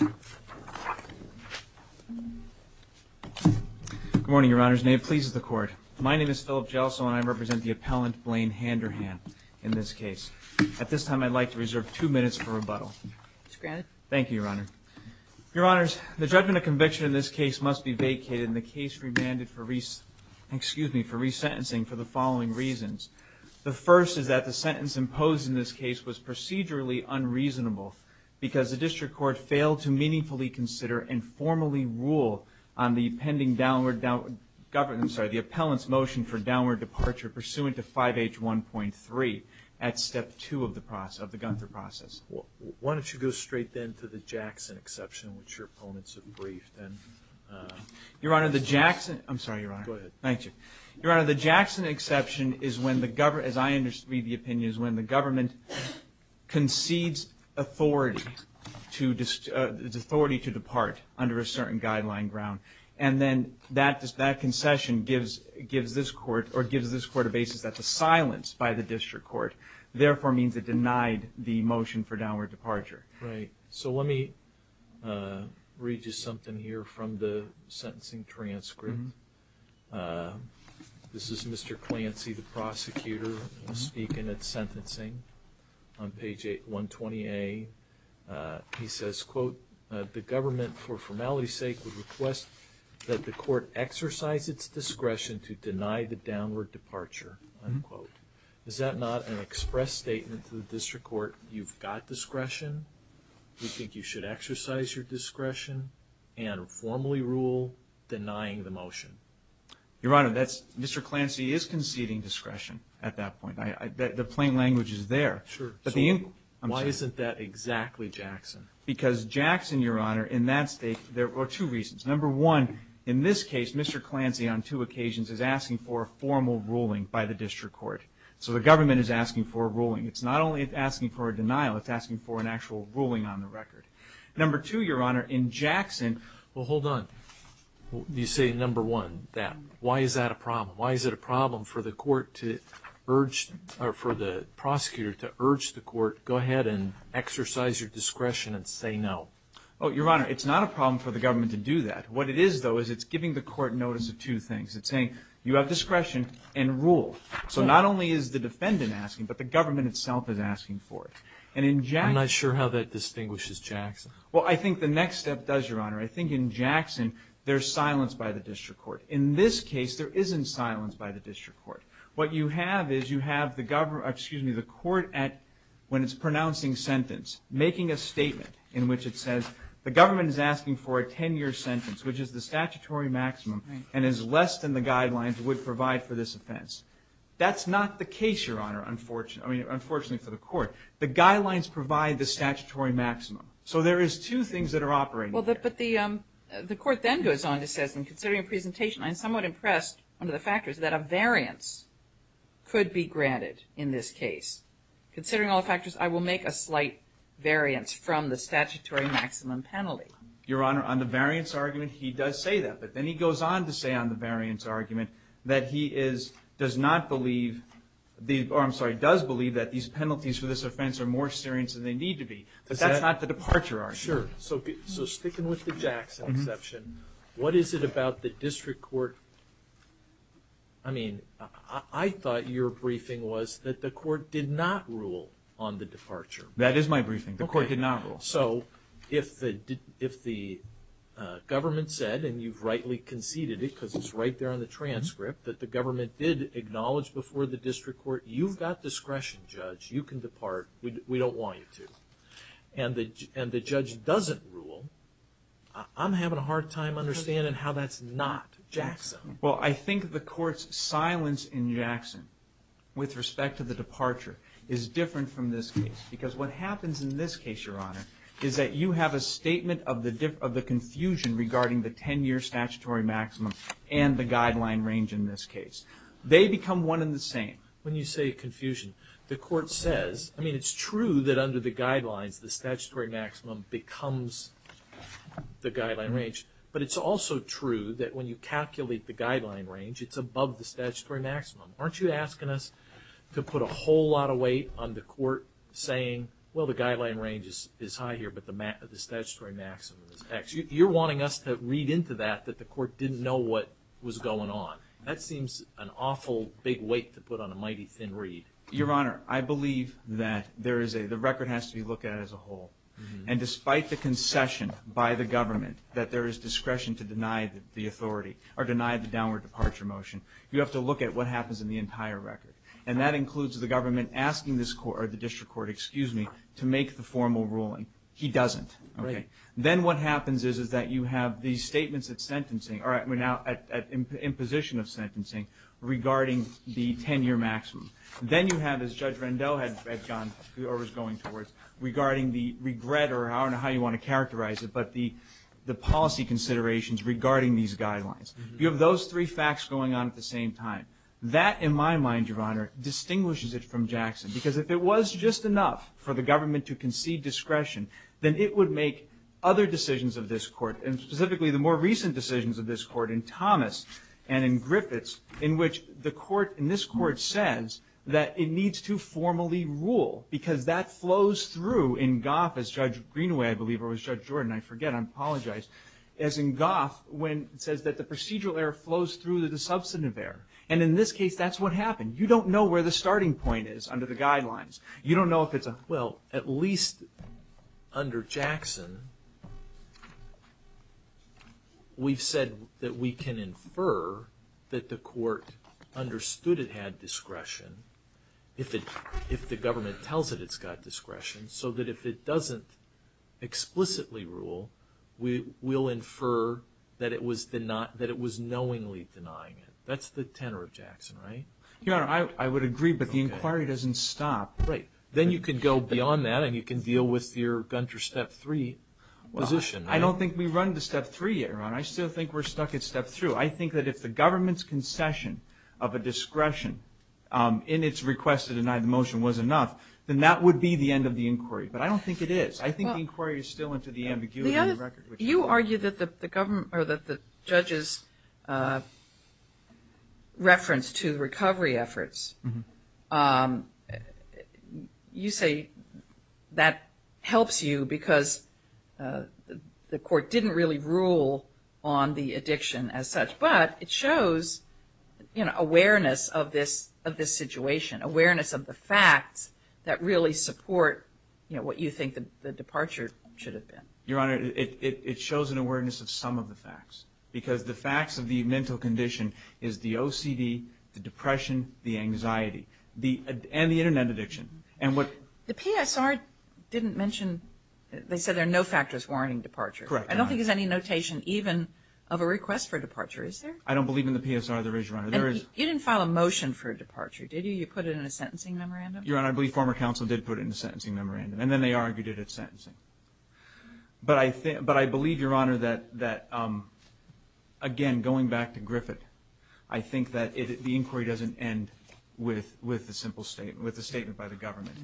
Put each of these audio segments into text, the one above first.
Good morning, Your Honors, and may it please the Court. My name is Philip Jelso and I represent the appellant Blaine Handerhan in this case. At this time I'd like to reserve two minutes for rebuttal. Thank you, Your Honor. Your Honors, the judgment of conviction in this case must be vacated and the case remanded for resentencing for the following reasons. The first is that the sentence imposed in this case was procedurally unreasonable because the district court failed to meaningfully consider and formally rule on the appellant's motion for downward departure pursuant to 5H1.3 at step 2 of the Gunther process. Why don't you go straight then to the Jackson exception, which your opponents have briefed. Your Honor, the Jackson exception is when the government concedes authority. The authority to depart under a certain guideline ground. And then that concession gives this Court a basis that the silence by the district court therefore means it denied the motion for downward departure. So let me read you something here from the sentencing transcript. This is Mr. Clancy, the prosecutor, speaking at sentencing on page 120A. He says, quote, the government for formality's sake would request that the court exercise its discretion to deny the downward departure, unquote. Is that not an express statement to the district court, you've got discretion, you think you should exercise your discretion and formally rule denying the motion? Your Honor, Mr. Clancy is conceding discretion at that point. The plain language is there. Sure. Why isn't that exactly Jackson? Because Jackson, Your Honor, in that state, there are two reasons. Number one, in this case, Mr. Clancy on two occasions is asking for a formal ruling by the district court. So the government is asking for a ruling. It's not only asking for a denial, it's asking for an actual ruling on the record. Number two, Your Honor, in Jackson, well, hold on, you say number one, that. Why is that a problem? Why is it a problem for the court to urge, or for the prosecutor to urge the court, go ahead and exercise your discretion and say no? Oh, Your Honor, it's not a problem for the government to do that. What it is, though, is it's giving the court notice of two things. It's saying, you have discretion and rule. So not only is the defendant asking, but the government itself is asking for it. And in Jackson. I'm not sure how that distinguishes Jackson. Well, I think the next step does, Your Honor. I think in Jackson, there's silence by the district court. In this case, there isn't silence by the district court. What you have is you have the government, excuse me, the court at, when it's pronouncing sentence, making a statement in which it says, the government is asking for a 10-year sentence, which is the statutory maximum, and is less than the guidelines it would provide for this That's not the case, Your Honor, unfortunately, I mean, unfortunately for the court. The guidelines provide the statutory maximum. So there is two things that are operating. Well, but the, the court then goes on to say, I'm considering a presentation. I'm somewhat impressed under the factors that a variance could be granted in this case. Considering all factors, I will make a slight variance from the statutory maximum penalty. Your Honor, on the variance argument, he does say that. But then he goes on to say on the variance argument, that he is, does not believe, the, or I'm sorry, does believe that these penalties for this offense are more serious than they need to be. But that's not the departure argument. Sure. So, so sticking with the Jackson exception, what is it about the district court, I mean, I thought your briefing was that the court did not rule on the departure. That is my briefing. The court did not rule. So if the, if the government said, and you've rightly conceded it, because it's right there on the transcript, that the government did acknowledge before the district court, you've got discretion, Judge, you can depart, we don't want you to. And the, and the judge doesn't rule, I'm having a hard time understanding how that's not Jackson. Well, I think the court's silence in Jackson, with respect to the departure, is different from this case. Because what happens in this case, Your Honor, is that you have a statement of the confusion regarding the 10-year statutory maximum and the guideline range in this case. They become one and the same. When you say confusion, the court says, I mean, it's true that under the guidelines, the statutory maximum becomes the guideline range. But it's also true that when you calculate the guideline range, it's above the statutory maximum. Aren't you asking us to put a whole lot of weight on the court saying, well, the guideline range is high here, but the statutory maximum is X? You're wanting us to read into that, that the court didn't know what was going on. That seems an awful big weight to put on a mighty thin read. Your Honor, I believe that there is a, the record has to be looked at as a whole. And despite the concession by the government, that there is discretion to deny the authority, or deny the downward departure motion. You have to look at what happens in the entire record. And that includes the government asking this court, or the district court, excuse me, to make the formal ruling. He doesn't. Right. Then what happens is, is that you have these statements of sentencing, or now at imposition of sentencing, regarding the 10-year maximum. Then you have, as Judge Rendot had gone, or was going towards, regarding the regret, or I don't know how you want to characterize it, but the policy considerations regarding these guidelines. You have those three facts going on at the same time. That in my mind, Your Honor, distinguishes it from Jackson. Because if it was just enough for the government to concede discretion, then it would make other decisions of this court, and specifically the more recent decisions of this court in Thomas and in Griffiths, in which the court, in this court, says that it needs to formally rule. Because that flows through in Goff, as Judge Greenway, I believe, or was Judge Jordan, I forget, I apologize. As in Goff, when it says that the procedural error flows through the substantive error. And in this case, that's what happened. You don't know where the starting point is under the guidelines. You don't know if it's a... Well, at least under Jackson, we've said that we can infer that the court understood it had discretion, if the government tells it it's got discretion, so that if it doesn't explicitly rule, we'll infer that it was knowingly denying it. That's the tenor of Jackson, right? Your Honor, I would agree, but the inquiry doesn't stop. Right. Then you could go beyond that, and you can deal with your Gunter Step 3 position. I don't think we run to Step 3 yet, Your Honor. I still think we're stuck at Step 3. I think that if the government's concession of a discretion in its request to deny the motion was enough, then that would be the end of the inquiry. But I don't think it is. I think the inquiry is still into the ambiguity of the record. You argue that the government, or that the judge's reference to recovery efforts, you say that helps you because the court didn't really rule on the addiction as such, but it shows awareness of this situation, awareness of the facts that really support what you think the departure should have been. Your Honor, it shows an awareness of some of the facts, because the facts of the mental condition is the OCD, the depression, the anxiety, and the Internet addiction. The PSR didn't mention, they said there are no factors warning departure. Correct, Your Honor. I don't think there's any notation even of a request for departure, is there? I don't believe in the PSR. There is, Your Honor. There is. You didn't file a motion for departure, did you? You put it in a sentencing memorandum? Your Honor, I believe former counsel did put it in a sentencing memorandum, and then they argued it at sentencing. But I believe, Your Honor, that, again, going back to Griffith, I think that the inquiry doesn't end with a statement by the government.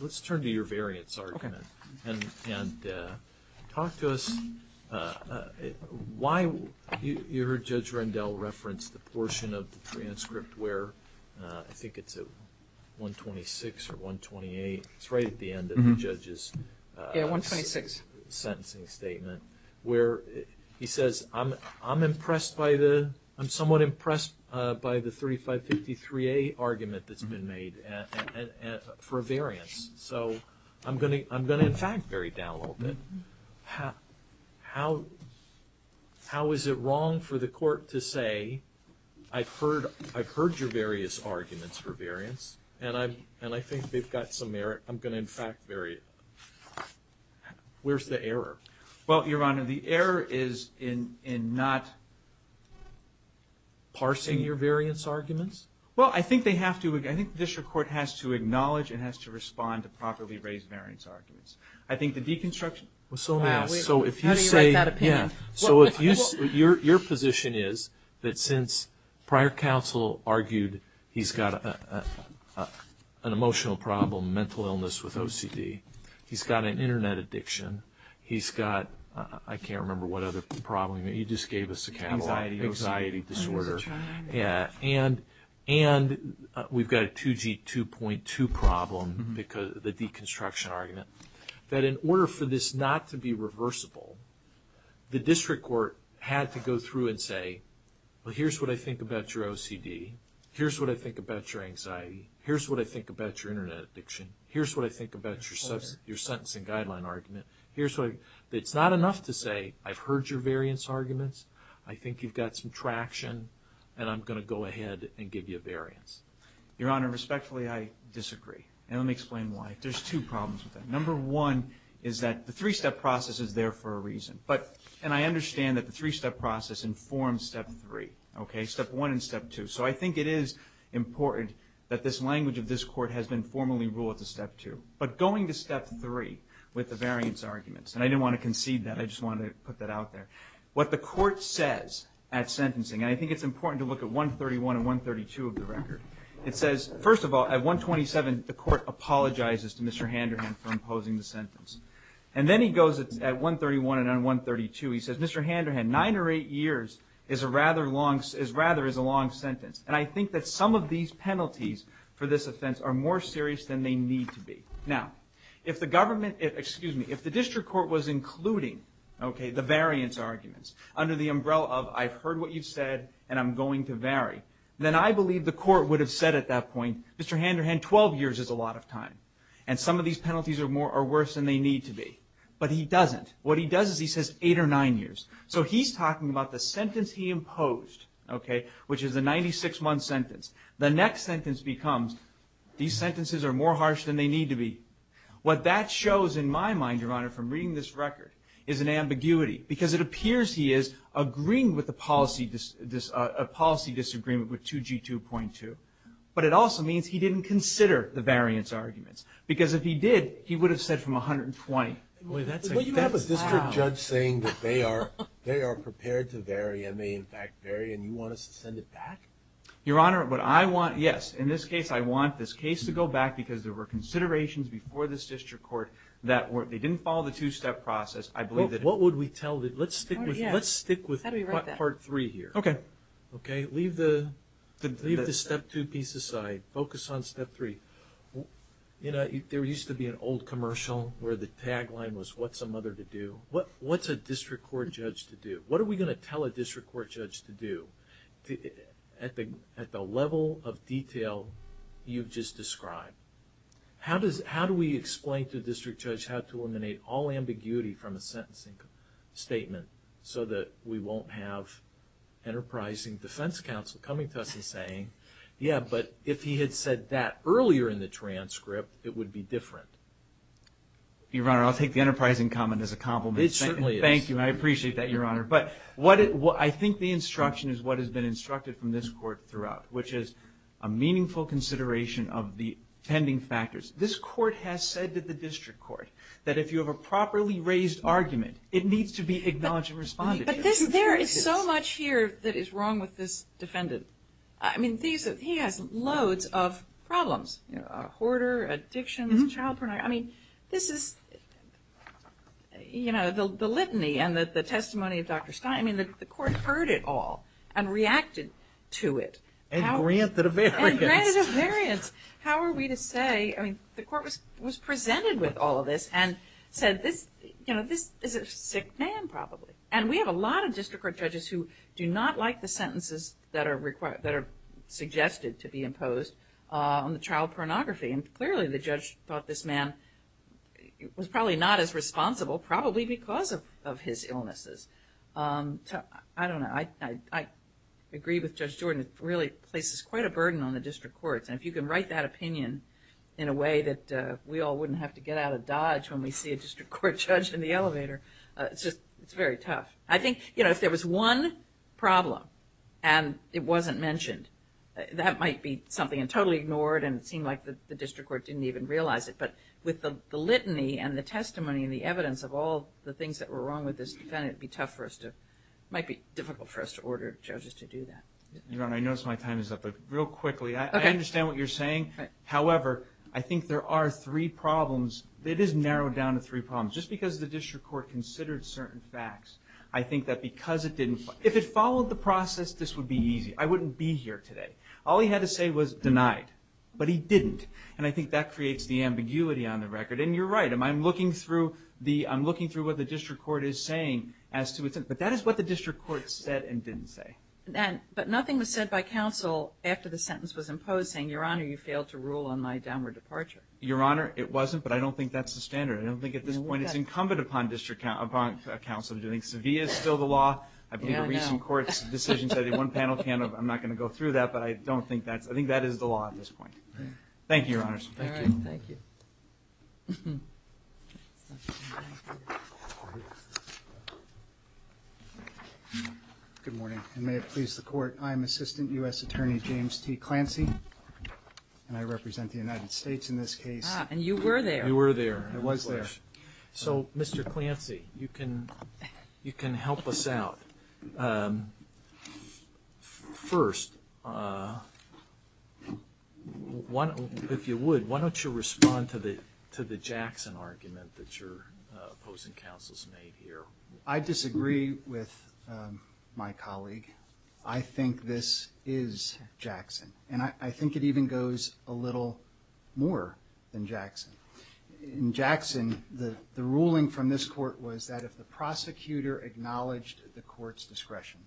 Let's turn to your variance argument, and talk to us why you heard Judge Rendell reference the portion of the transcript where, I think it's at 126 or 128, it's right at the end of the judge's sentencing statement, where he says, I'm impressed by the, I'm somewhat impressed by the 3553A argument that's been made for a variance. So I'm going to, in fact, bury down a little bit. How is it wrong for the court to say, I've heard your various arguments for variance, and I think they've got some merit. I'm going to, in fact, bury it. Where's the error? Well, Your Honor, the error is in not parsing your variance arguments. Well, I think they have to, I think the district court has to acknowledge and has to respond to properly raised variance arguments. I think the deconstruction was so mass, so if you say, yeah, so if you, your position is that since prior counsel argued he's got an emotional problem, mental illness with OCD, he's got an internet addiction, he's got, I can't remember what other problem, he just gave us a catalog, anxiety disorder, yeah, and we've got a 2G 2.2 problem because of the deconstruction argument, that in order for this not to be reversible, the district court had to go through and say, well, here's what I think about your OCD, here's what I think about your anxiety, here's what I think about your internet addiction, here's what I think about your sentencing guideline argument, here's what I, it's not enough to say, I've heard your variance arguments, I think you've got some traction, and I'm going to go ahead and give you a variance. Your Honor, respectfully, I disagree, and let me explain why. There's two problems with that. Number one is that the three-step process is there for a reason, but, and I understand that the three-step process informs step three, okay, step one and step two, so I think it is important that this language of this court has been formally ruled to step two, but going to step three with the variance arguments, and I didn't want to concede that, I just wanted to put that out there, what the court says at sentencing, and I think it's important to look at 131 and 132 of the record. It says, first of all, at 127, the court apologizes to Mr. Handerhan for imposing the sentence, and then he goes at 131 and on 132, he says, Mr. Handerhan, nine or eight years is rather a long sentence, and I think that some of these penalties for this offense are more serious than they need to be. Now, if the government, excuse me, if the district court was including, okay, the variance arguments under the umbrella of, I've heard what you've said, and I'm going to vary, then I believe the court would have said at that point, Mr. Handerhan, 12 years is a lot of time, and some of these penalties are worse than they need to be, but he doesn't. What he does is he says eight or nine years, so he's talking about the sentence he imposed, okay, which is a 96-month sentence. The next sentence becomes, these sentences are more harsh than they need to be. What that shows in my mind, Your Honor, from reading this record, is an ambiguity, because it appears he is agreeing with the policy, a policy disagreement with 2G2.2, but it also means he didn't consider the variance arguments, because if he did, he would have said from 120. Boy, that's a, that's loud. Well, you have a district judge saying that they are, they are prepared to vary and may in fact vary, and you want us to send it back? Your Honor, what I want, yes, in this case, I want this case to go back because there were considerations before this district court that were, they didn't follow the two-step process. I believe that. Well, what would we tell the, let's stick with, let's stick with part three here. Okay. Okay? Leave the, leave the step two piece aside. Focus on step three. You know, there used to be an old commercial where the tagline was, what's a mother to do? What's a district court judge to do? What are we going to tell a district court judge to do at the, at the level of detail you've just described? How does, how do we explain to a district judge how to eliminate all ambiguity from a sentencing statement so that we won't have enterprising defense counsel coming to us and saying, yeah, but if he had said that earlier in the transcript, it would be different. Your Honor, I'll take the enterprising comment as a compliment. It certainly is. Thank you. I appreciate that, Your Honor. But what it, I think the instruction is what has been instructed from this court throughout, which is a meaningful consideration of the pending factors. This court has said to the district court that if you have a properly raised argument, it needs to be acknowledged and responded to. But this, there is so much here that is wrong with this defendant. I mean, these, he has loads of problems, you know, a hoarder, addictions, child pornography. I mean, this is, you know, the litany and the testimony of Dr. Stein, I mean, the court heard it all and reacted to it. And granted a variance. And granted a variance. How are we to say, I mean, the court was presented with all of this and said this, you know, this is a sick man probably. And we have a lot of district court judges who do not like the sentences that are required, that are suggested to be imposed on the child pornography. And clearly the judge thought this man was probably not as responsible, probably because of his illnesses. I don't know. I agree with Judge Jordan. It really places quite a burden on the district courts. And if you can write that opinion in a way that we all wouldn't have to get out of Dodge when we see a district court judge in the elevator, it's just, it's very tough. I think, you know, if there was one problem and it wasn't mentioned, that might be something and totally ignored and it seemed like the district court didn't even realize it. But with the litany and the testimony and the evidence of all the things that were wrong with this defendant, it'd be tough for us to, it might be difficult for us to order judges to do that. Your Honor, I notice my time is up, but real quickly, I understand what you're saying. However, I think there are three problems. It is narrowed down to three problems. Just because the district court considered certain facts, I think that because it didn't, if it followed the process, this would be easy. I wouldn't be here today. All he had to say was denied, but he didn't. And I think that creates the ambiguity on the record. And you're right. I'm looking through the, I'm looking through what the district court is saying as to its, but that is what the district court said and didn't say. But nothing was said by counsel after the sentence was imposed saying, Your Honor, you failed to rule on my downward departure. Your Honor, it wasn't, but I don't think that's the standard. I don't think at this point it's incumbent upon district, upon counsel to do anything. Sevilla is still the law. I believe the recent court's decision said that one panel can, I'm not going to go through that, but I don't think that's, I think that is the law at this point. Thank you, Your Honors. All right. Thank you. Thank you. Good morning. And may it please the court, I'm Assistant U.S. Attorney James T. Clancy, and I represent the United States in this case. And you were there. You were there. I was there. So, Mr. Clancy, you can, you can help us out. First, why don't, if you would, why don't you respond to the, to the Jackson argument that your opposing counsel's made here? I disagree with my colleague. I think this is Jackson. And I think it even goes a little more than Jackson. In Jackson, the ruling from this court was that if the prosecutor acknowledged the court's discretion,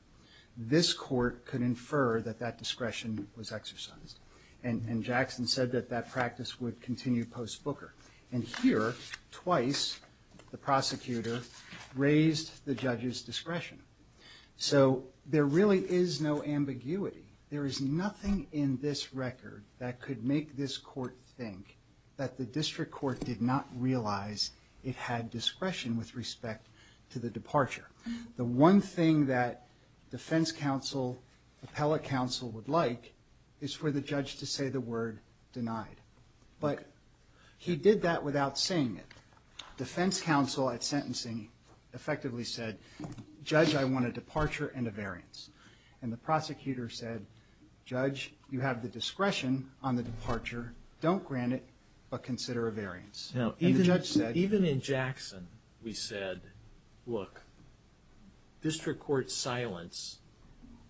this court could infer that that discretion was exercised. And Jackson said that that practice would continue post-Booker. And here, twice, the prosecutor raised the judge's discretion. So there really is no ambiguity. There is nothing in this record that could make this court think that the district court did not realize it had discretion with respect to the departure. The one thing that defense counsel, appellate counsel, would like is for the judge to say the word denied. But he did that without saying it. Defense counsel at sentencing effectively said, Judge, I want a departure and a variance. And the prosecutor said, Judge, you have the discretion on the departure. Don't grant it, but consider a variance. Now, even in Jackson, we said, look, district court silence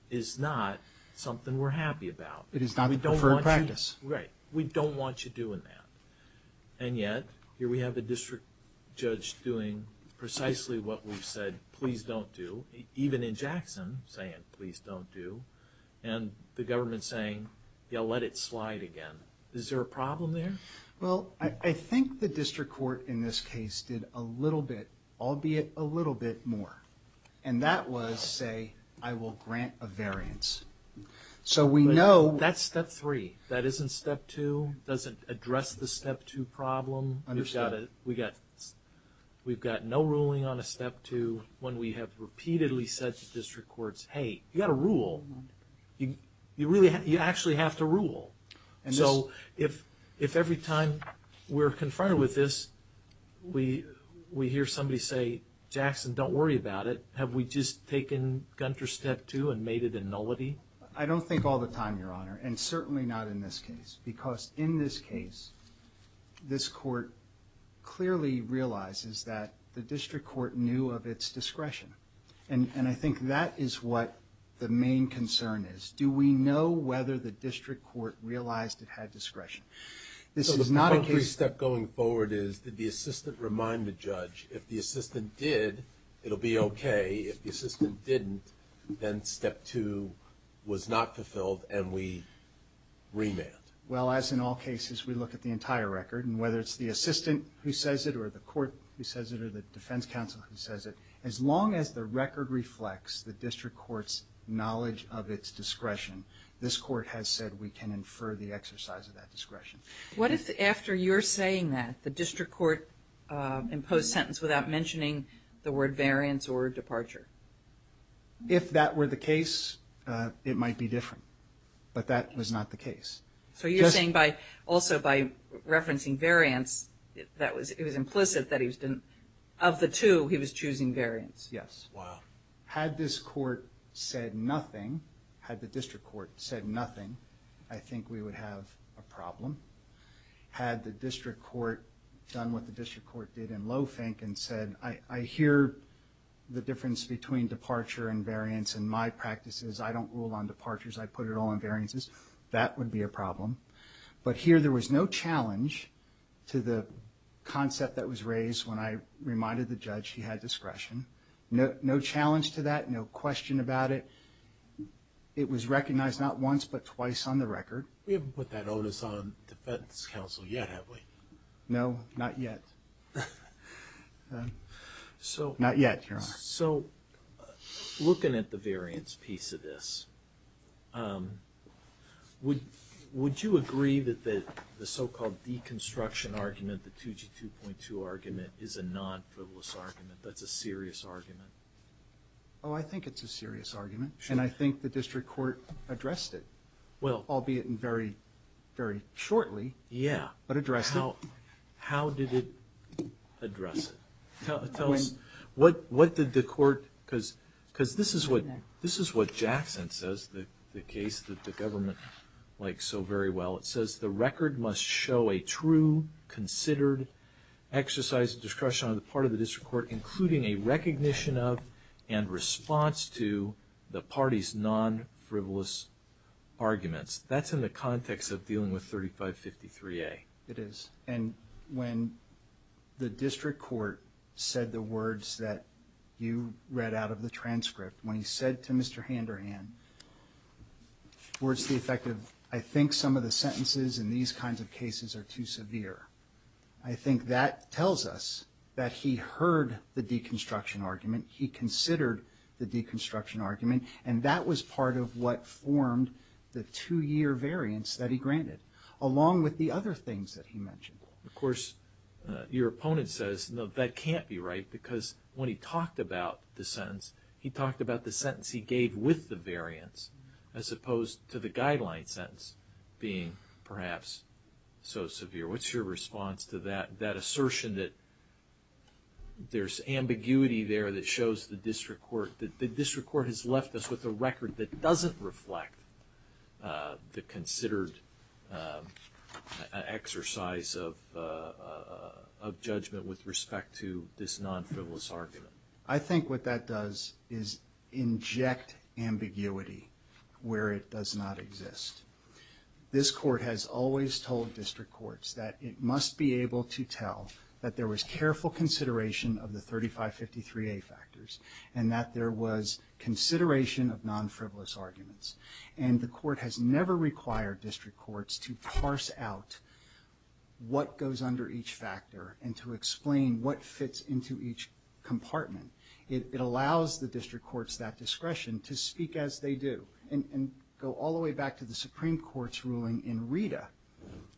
is not something we're happy about. It is not the preferred practice. Right. We don't want you doing that. And yet, here we have a district judge doing precisely what we've said, please don't do, even in Jackson, saying, please don't do. And the government's saying, yeah, let it slide again. Is there a problem there? Well, I think the district court in this case did a little bit, albeit a little bit more. And that was, say, I will grant a variance. So we know- That's step three. That isn't step two. Doesn't address the step two problem. Understood. We've got no ruling on a step two when we have repeatedly said to district courts, hey, you got to rule. You actually have to rule. So if every time we're confronted with this, we hear somebody say, Jackson, don't worry about it. Have we just taken Gunter's step two and made it a nullity? I don't think all the time, Your Honor, and certainly not in this case. Because in this case, this court clearly realizes that the district court knew of its discretion. And I think that is what the main concern is. Do we know whether the district court realized it had discretion? This is not a case- So the concrete step going forward is, did the assistant remind the judge, if the assistant did, it'll be okay. If the assistant didn't, then step two was not fulfilled, and we remand. Well, as in all cases, we look at the entire record. And whether it's the assistant who says it, or the court who says it, or the defense counsel who says it, as long as the record reflects the district court's knowledge of its discretion, this court has said we can infer the exercise of that discretion. What if after you're saying that, the district court imposed sentence without mentioning the word variance or departure? If that were the case, it might be different. But that was not the case. So you're saying also by referencing variance, it was implicit that of the two, he was choosing variance. Yes. Wow. Had this court said nothing, had the district court said nothing, I think we would have a problem. Had the district court done what the district court did in Lofink and said, I hear the difference between departure and variance in my practices. I don't rule on departures. I put it all in variances. That would be a problem. But here, there was no challenge to the concept that was raised when I reminded the judge he had discretion. No challenge to that. No question about it. It was recognized not once, but twice on the record. We haven't put that onus on defense counsel yet, have we? No, not yet. Not yet, Your Honor. So looking at the variance piece of this, would you agree that the so-called deconstruction argument, the 2G2.2 argument, is a non-frivolous argument, that's a serious argument? Oh, I think it's a serious argument. And I think the district court addressed it, albeit in very, very shortly, but addressed it. How did it address it? Tell us, what did the court, because this is what Jackson says, the case that the government likes so very well. It says, the record must show a true, considered exercise of discretion on the part of the district court, including a recognition of and response to the party's non-frivolous arguments. That's in the context of dealing with 3553A. It is. And when the district court said the words that you read out of the transcript, when he said to Mr. Handerhan, words to the effect of, I think some of the sentences in these kinds of cases are too severe. I think that tells us that he heard the deconstruction argument, he considered the deconstruction argument, and that was part of what formed the two-year variance that he granted. Along with the other things that he mentioned. Of course, your opponent says, no, that can't be right, because when he talked about the sentence, he talked about the sentence he gave with the variance, as opposed to the guideline sentence being perhaps so severe. What's your response to that assertion that there's ambiguity there that shows the district court, or has left us with a record that doesn't reflect the considered exercise of judgment with respect to this non-frivolous argument? I think what that does is inject ambiguity where it does not exist. This court has always told district courts that it must be able to tell that there was careful consideration of the 3553A factors, and that there was consideration of non-frivolous arguments. And the court has never required district courts to parse out what goes under each factor, and to explain what fits into each compartment. It allows the district courts that discretion to speak as they do. And go all the way back to the Supreme Court's ruling in Rita,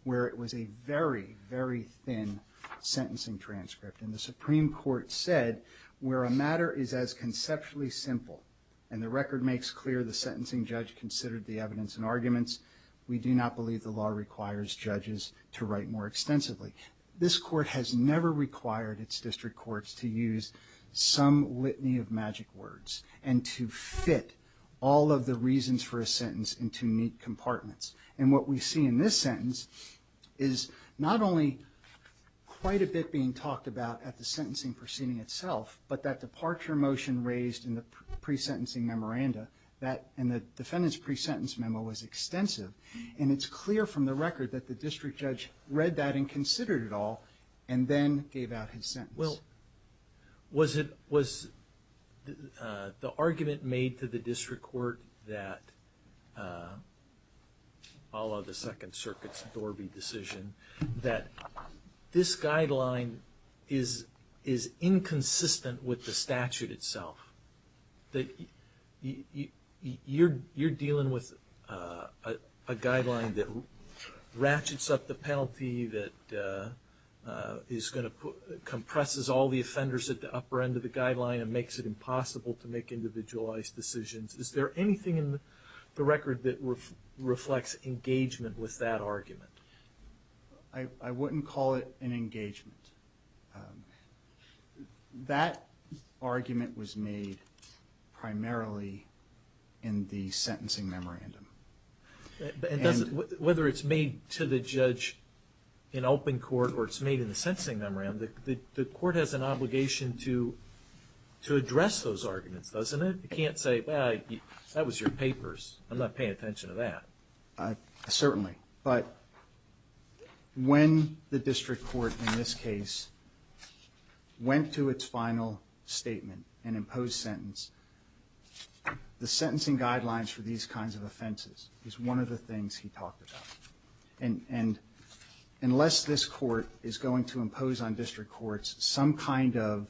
where it was a very, very thin sentencing transcript. And the Supreme Court said, where a matter is as conceptually simple, and the record makes clear the sentencing judge considered the evidence and arguments, we do not believe the law requires judges to write more extensively. This court has never required its district courts to use some litany of magic words, and to fit all of the reasons for a sentence into neat compartments. And what we see in this sentence is not only quite a bit being talked about at the sentencing proceeding itself, but that departure motion raised in the pre-sentencing memoranda, that in the defendant's pre-sentence memo was extensive. And it's clear from the record that the district judge read that and considered it all, and then gave out his sentence. Well, was it, was the argument made to the district court that, follow the Second Circuit's Dorby decision, that this guideline is, is inconsistent with the statute itself? That you, you, you're, you're dealing with a, a guideline that ratchets up the penalty that is gonna put, compresses all the offenders at the upper end of the guideline, and makes it impossible to make individualized decisions. Is there anything in the record that reflects engagement with that argument? I, I wouldn't call it an engagement. That argument was made primarily in the sentencing memorandum. And does it, whether it's made to the judge in open court, or it's made in the sentencing memorandum, the, the, the court has an obligation to, to address those arguments, doesn't it? You can't say, well, I, that was your papers. I'm not paying attention to that. Certainly. But when the district court in this case went to its final statement and imposed sentence, the sentencing guidelines for these kinds of offenses is one of the things he talked about. And, and unless this court is going to impose on district courts some kind of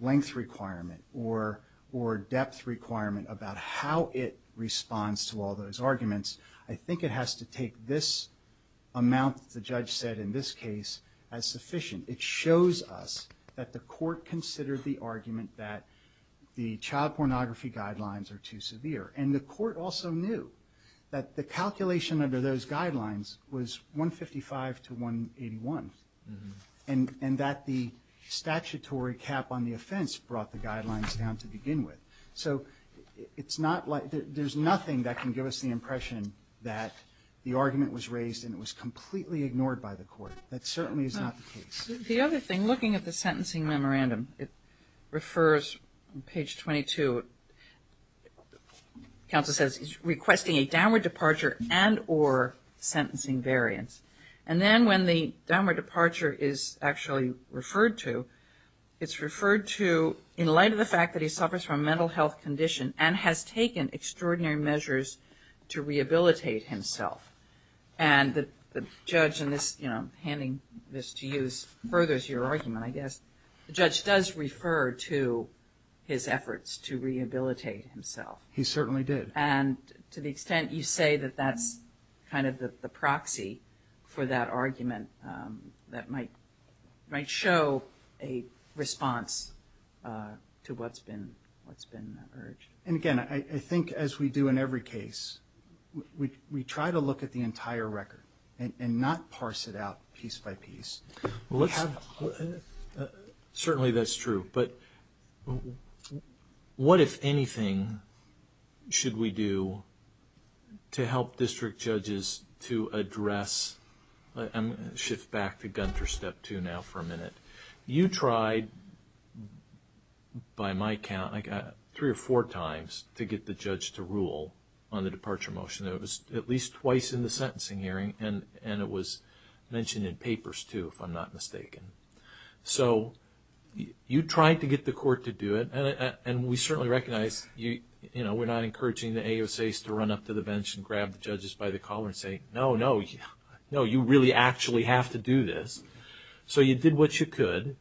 length requirement or, or depth requirement about how it responds to all those arguments, I think it has to take this amount the judge said in this case as sufficient. It shows us that the court considered the argument that the child pornography guidelines are too severe. And the court also knew that the calculation under those guidelines was 155 to 181. Mm-hm. And, and that the statutory cap on the offense brought the guidelines down to begin with. So, it's not like, there's nothing that can give us the impression that the argument was raised and it was completely ignored by the court. That certainly is not the case. The other thing, looking at the sentencing memorandum, it refers on page 22. Counsel says, requesting a downward departure and or sentencing variance. And then when the downward departure is actually referred to, it's referred to in light of the fact that he suffers from a mental health condition and has taken extraordinary measures to rehabilitate himself. And the, the judge in this, you know, handing this to you furthers your argument, I guess, the judge does refer to his efforts to rehabilitate himself. He certainly did. And to the extent you say that that's kind of the, the proxy for that argument that might, might show a response to what's been, what's been urged. And again, I, I think as we do in every case, we, we, we try to look at the entire record and, and not parse it out piece by piece. Well, let's. Certainly that's true. But what, if anything, should we do to help district judges to address. I'm going to shift back to Gunter step two now for a minute. You tried, by my count, I got three or four times to get the judge to rule on the departure motion. It was at least twice in the sentencing hearing and, and it was mentioned in papers too, if I'm not mistaken. So, you, you tried to get the court to do it and, and, and we certainly recognize you, you know, we're not encouraging the AUSAs to run up to the bench and grab the judges by the collar and say, no, no, no, you really actually have to do this. So you did what you could,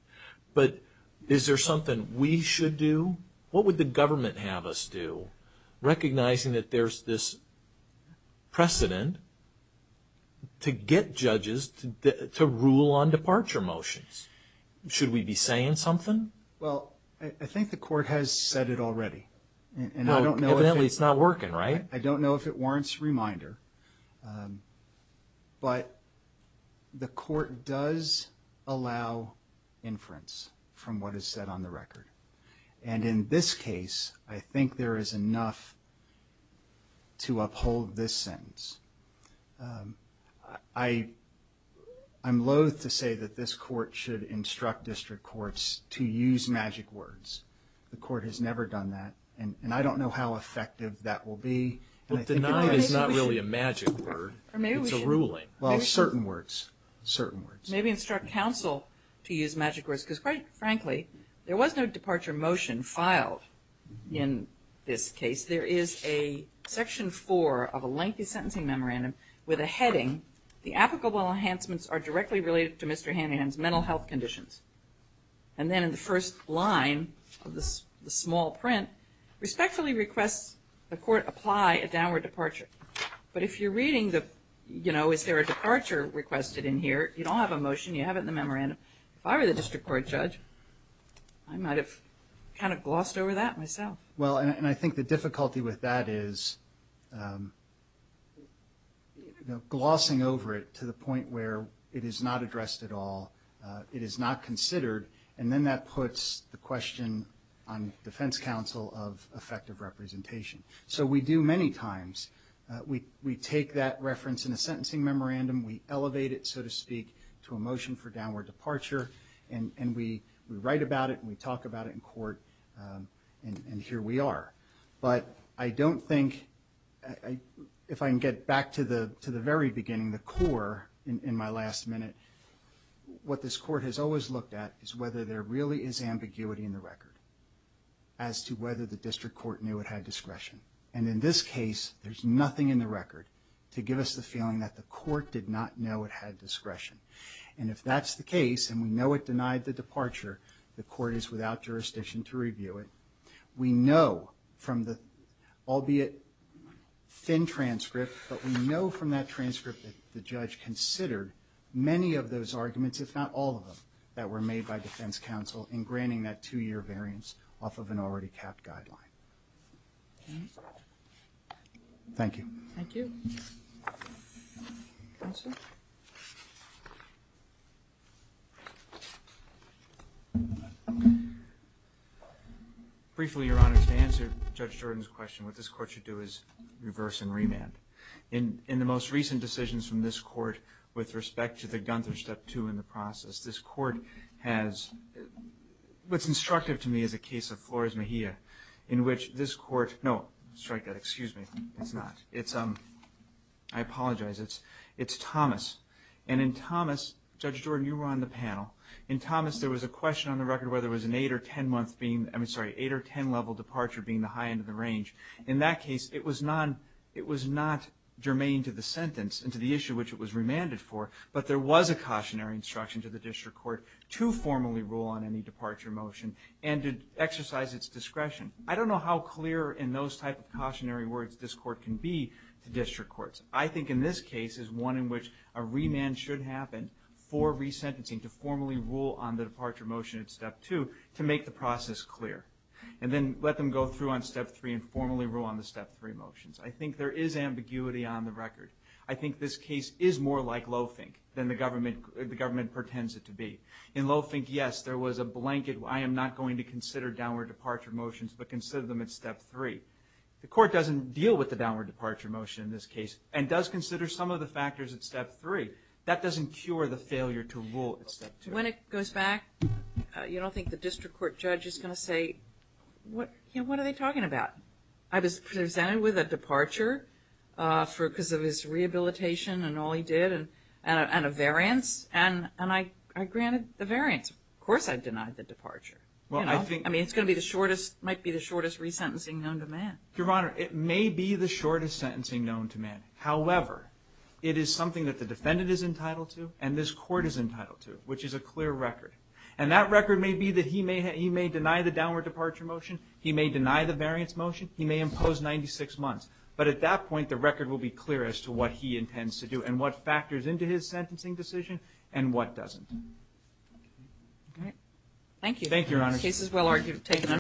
but is there something we should do? What would the government have us do? Recognizing that there's this precedent to get judges to rule on departure motions. Should we be saying something? Well, I think the court has said it already. And I don't know if it's not working, right? I don't know if it warrants reminder. But the court does allow inference from what is said on the record. And in this case, I think there is enough to uphold this sentence. I, I'm loathe to say that this court should instruct district courts to use magic words. The court has never done that. And, and I don't know how effective that will be. But deny is not really a magic word, it's a ruling. Well, certain words, certain words. Maybe instruct counsel to use magic words. Because quite frankly, there was no departure motion filed in this case. There is a section four of a lengthy sentencing memorandum with a heading. The applicable enhancements are directly related to Mr. Hanahan's mental health conditions. And then in the first line of this, the small print, respectfully requests the court apply a downward departure. But if you're reading the, you know, is there a departure requested in here? You don't have a motion, you have it in the memorandum. If I were the district court judge, I might have kind of glossed over that myself. Well, and, and I think the difficulty with that is, you know, glossing over it to the point where it is not addressed at all. It is not considered, and then that puts the question on defense counsel of effective representation. So we do many times, we, we take that reference in a sentencing memorandum. We elevate it, so to speak, to a motion for downward departure. And, and we, we write about it and we talk about it in court and, and here we are. But I don't think, I, I, if I can get back to the, to the very beginning, the core in, in my last minute, what this court has always looked at is whether there really is ambiguity in the record. As to whether the district court knew it had discretion. And in this case, there's nothing in the record to give us the feeling that the court did not know it had discretion. And if that's the case, and we know it denied the departure, the court is without jurisdiction to review it. We know from the, albeit thin transcript, but we know from that transcript that the judge considered many of those arguments, if not all of them, that were made by defense counsel in granting that two year variance off of an already capped guideline. Thank you. Thank you. Briefly, Your Honor, to answer Judge Jordan's question, what this court should do is reverse and remand. In, in the most recent decisions from this court, with respect to the Gunther step two in the process, this court has, what's instructive to me is a case of Flores Mejia, in which this court, no, strike that, excuse me, it's not, it's, I apologize, it's, it's Thomas. And in Thomas, Judge Jordan, you were on the panel. In Thomas, there was a question on the record whether it was an eight or ten month being, I'm sorry, eight or ten level departure being the high end of the range. In that case, it was not, it was not germane to the sentence and to the issue which it was remanded for. But there was a cautionary instruction to the district court to formally rule on any departure motion and to exercise its discretion. I don't know how clear in those type of cautionary words this court can be to district courts. I think in this case is one in which a remand should happen for resentencing to formally rule on the departure motion at step two to make the process clear, and then let them go through on step three and formally rule on the step three motions. I think there is ambiguity on the record. I think this case is more like low fink than the government, the government pretends it to be. In low fink, yes, there was a blanket, I am not going to consider downward departure motions, but consider them at step three. The court doesn't deal with the downward departure motion in this case, and does consider some of the factors at step three. That doesn't cure the failure to rule at step two. When it goes back, you don't think the district court judge is going to say, what are they talking about? I was presented with a departure for, because of his rehabilitation and all he did, and a variance, and I granted the variance. Of course I denied the departure. I mean, it might be the shortest resentencing known to man. Your Honor, it may be the shortest sentencing known to man. However, it is something that the defendant is entitled to, and this court is entitled to, which is a clear record. And that record may be that he may deny the downward departure motion, he may deny the variance motion, he may impose 96 months. But at that point, the record will be clear as to what he intends to do, and what factors into his sentencing decision, and what doesn't. All right, thank you. Thank you, Your Honor. Case is well taken.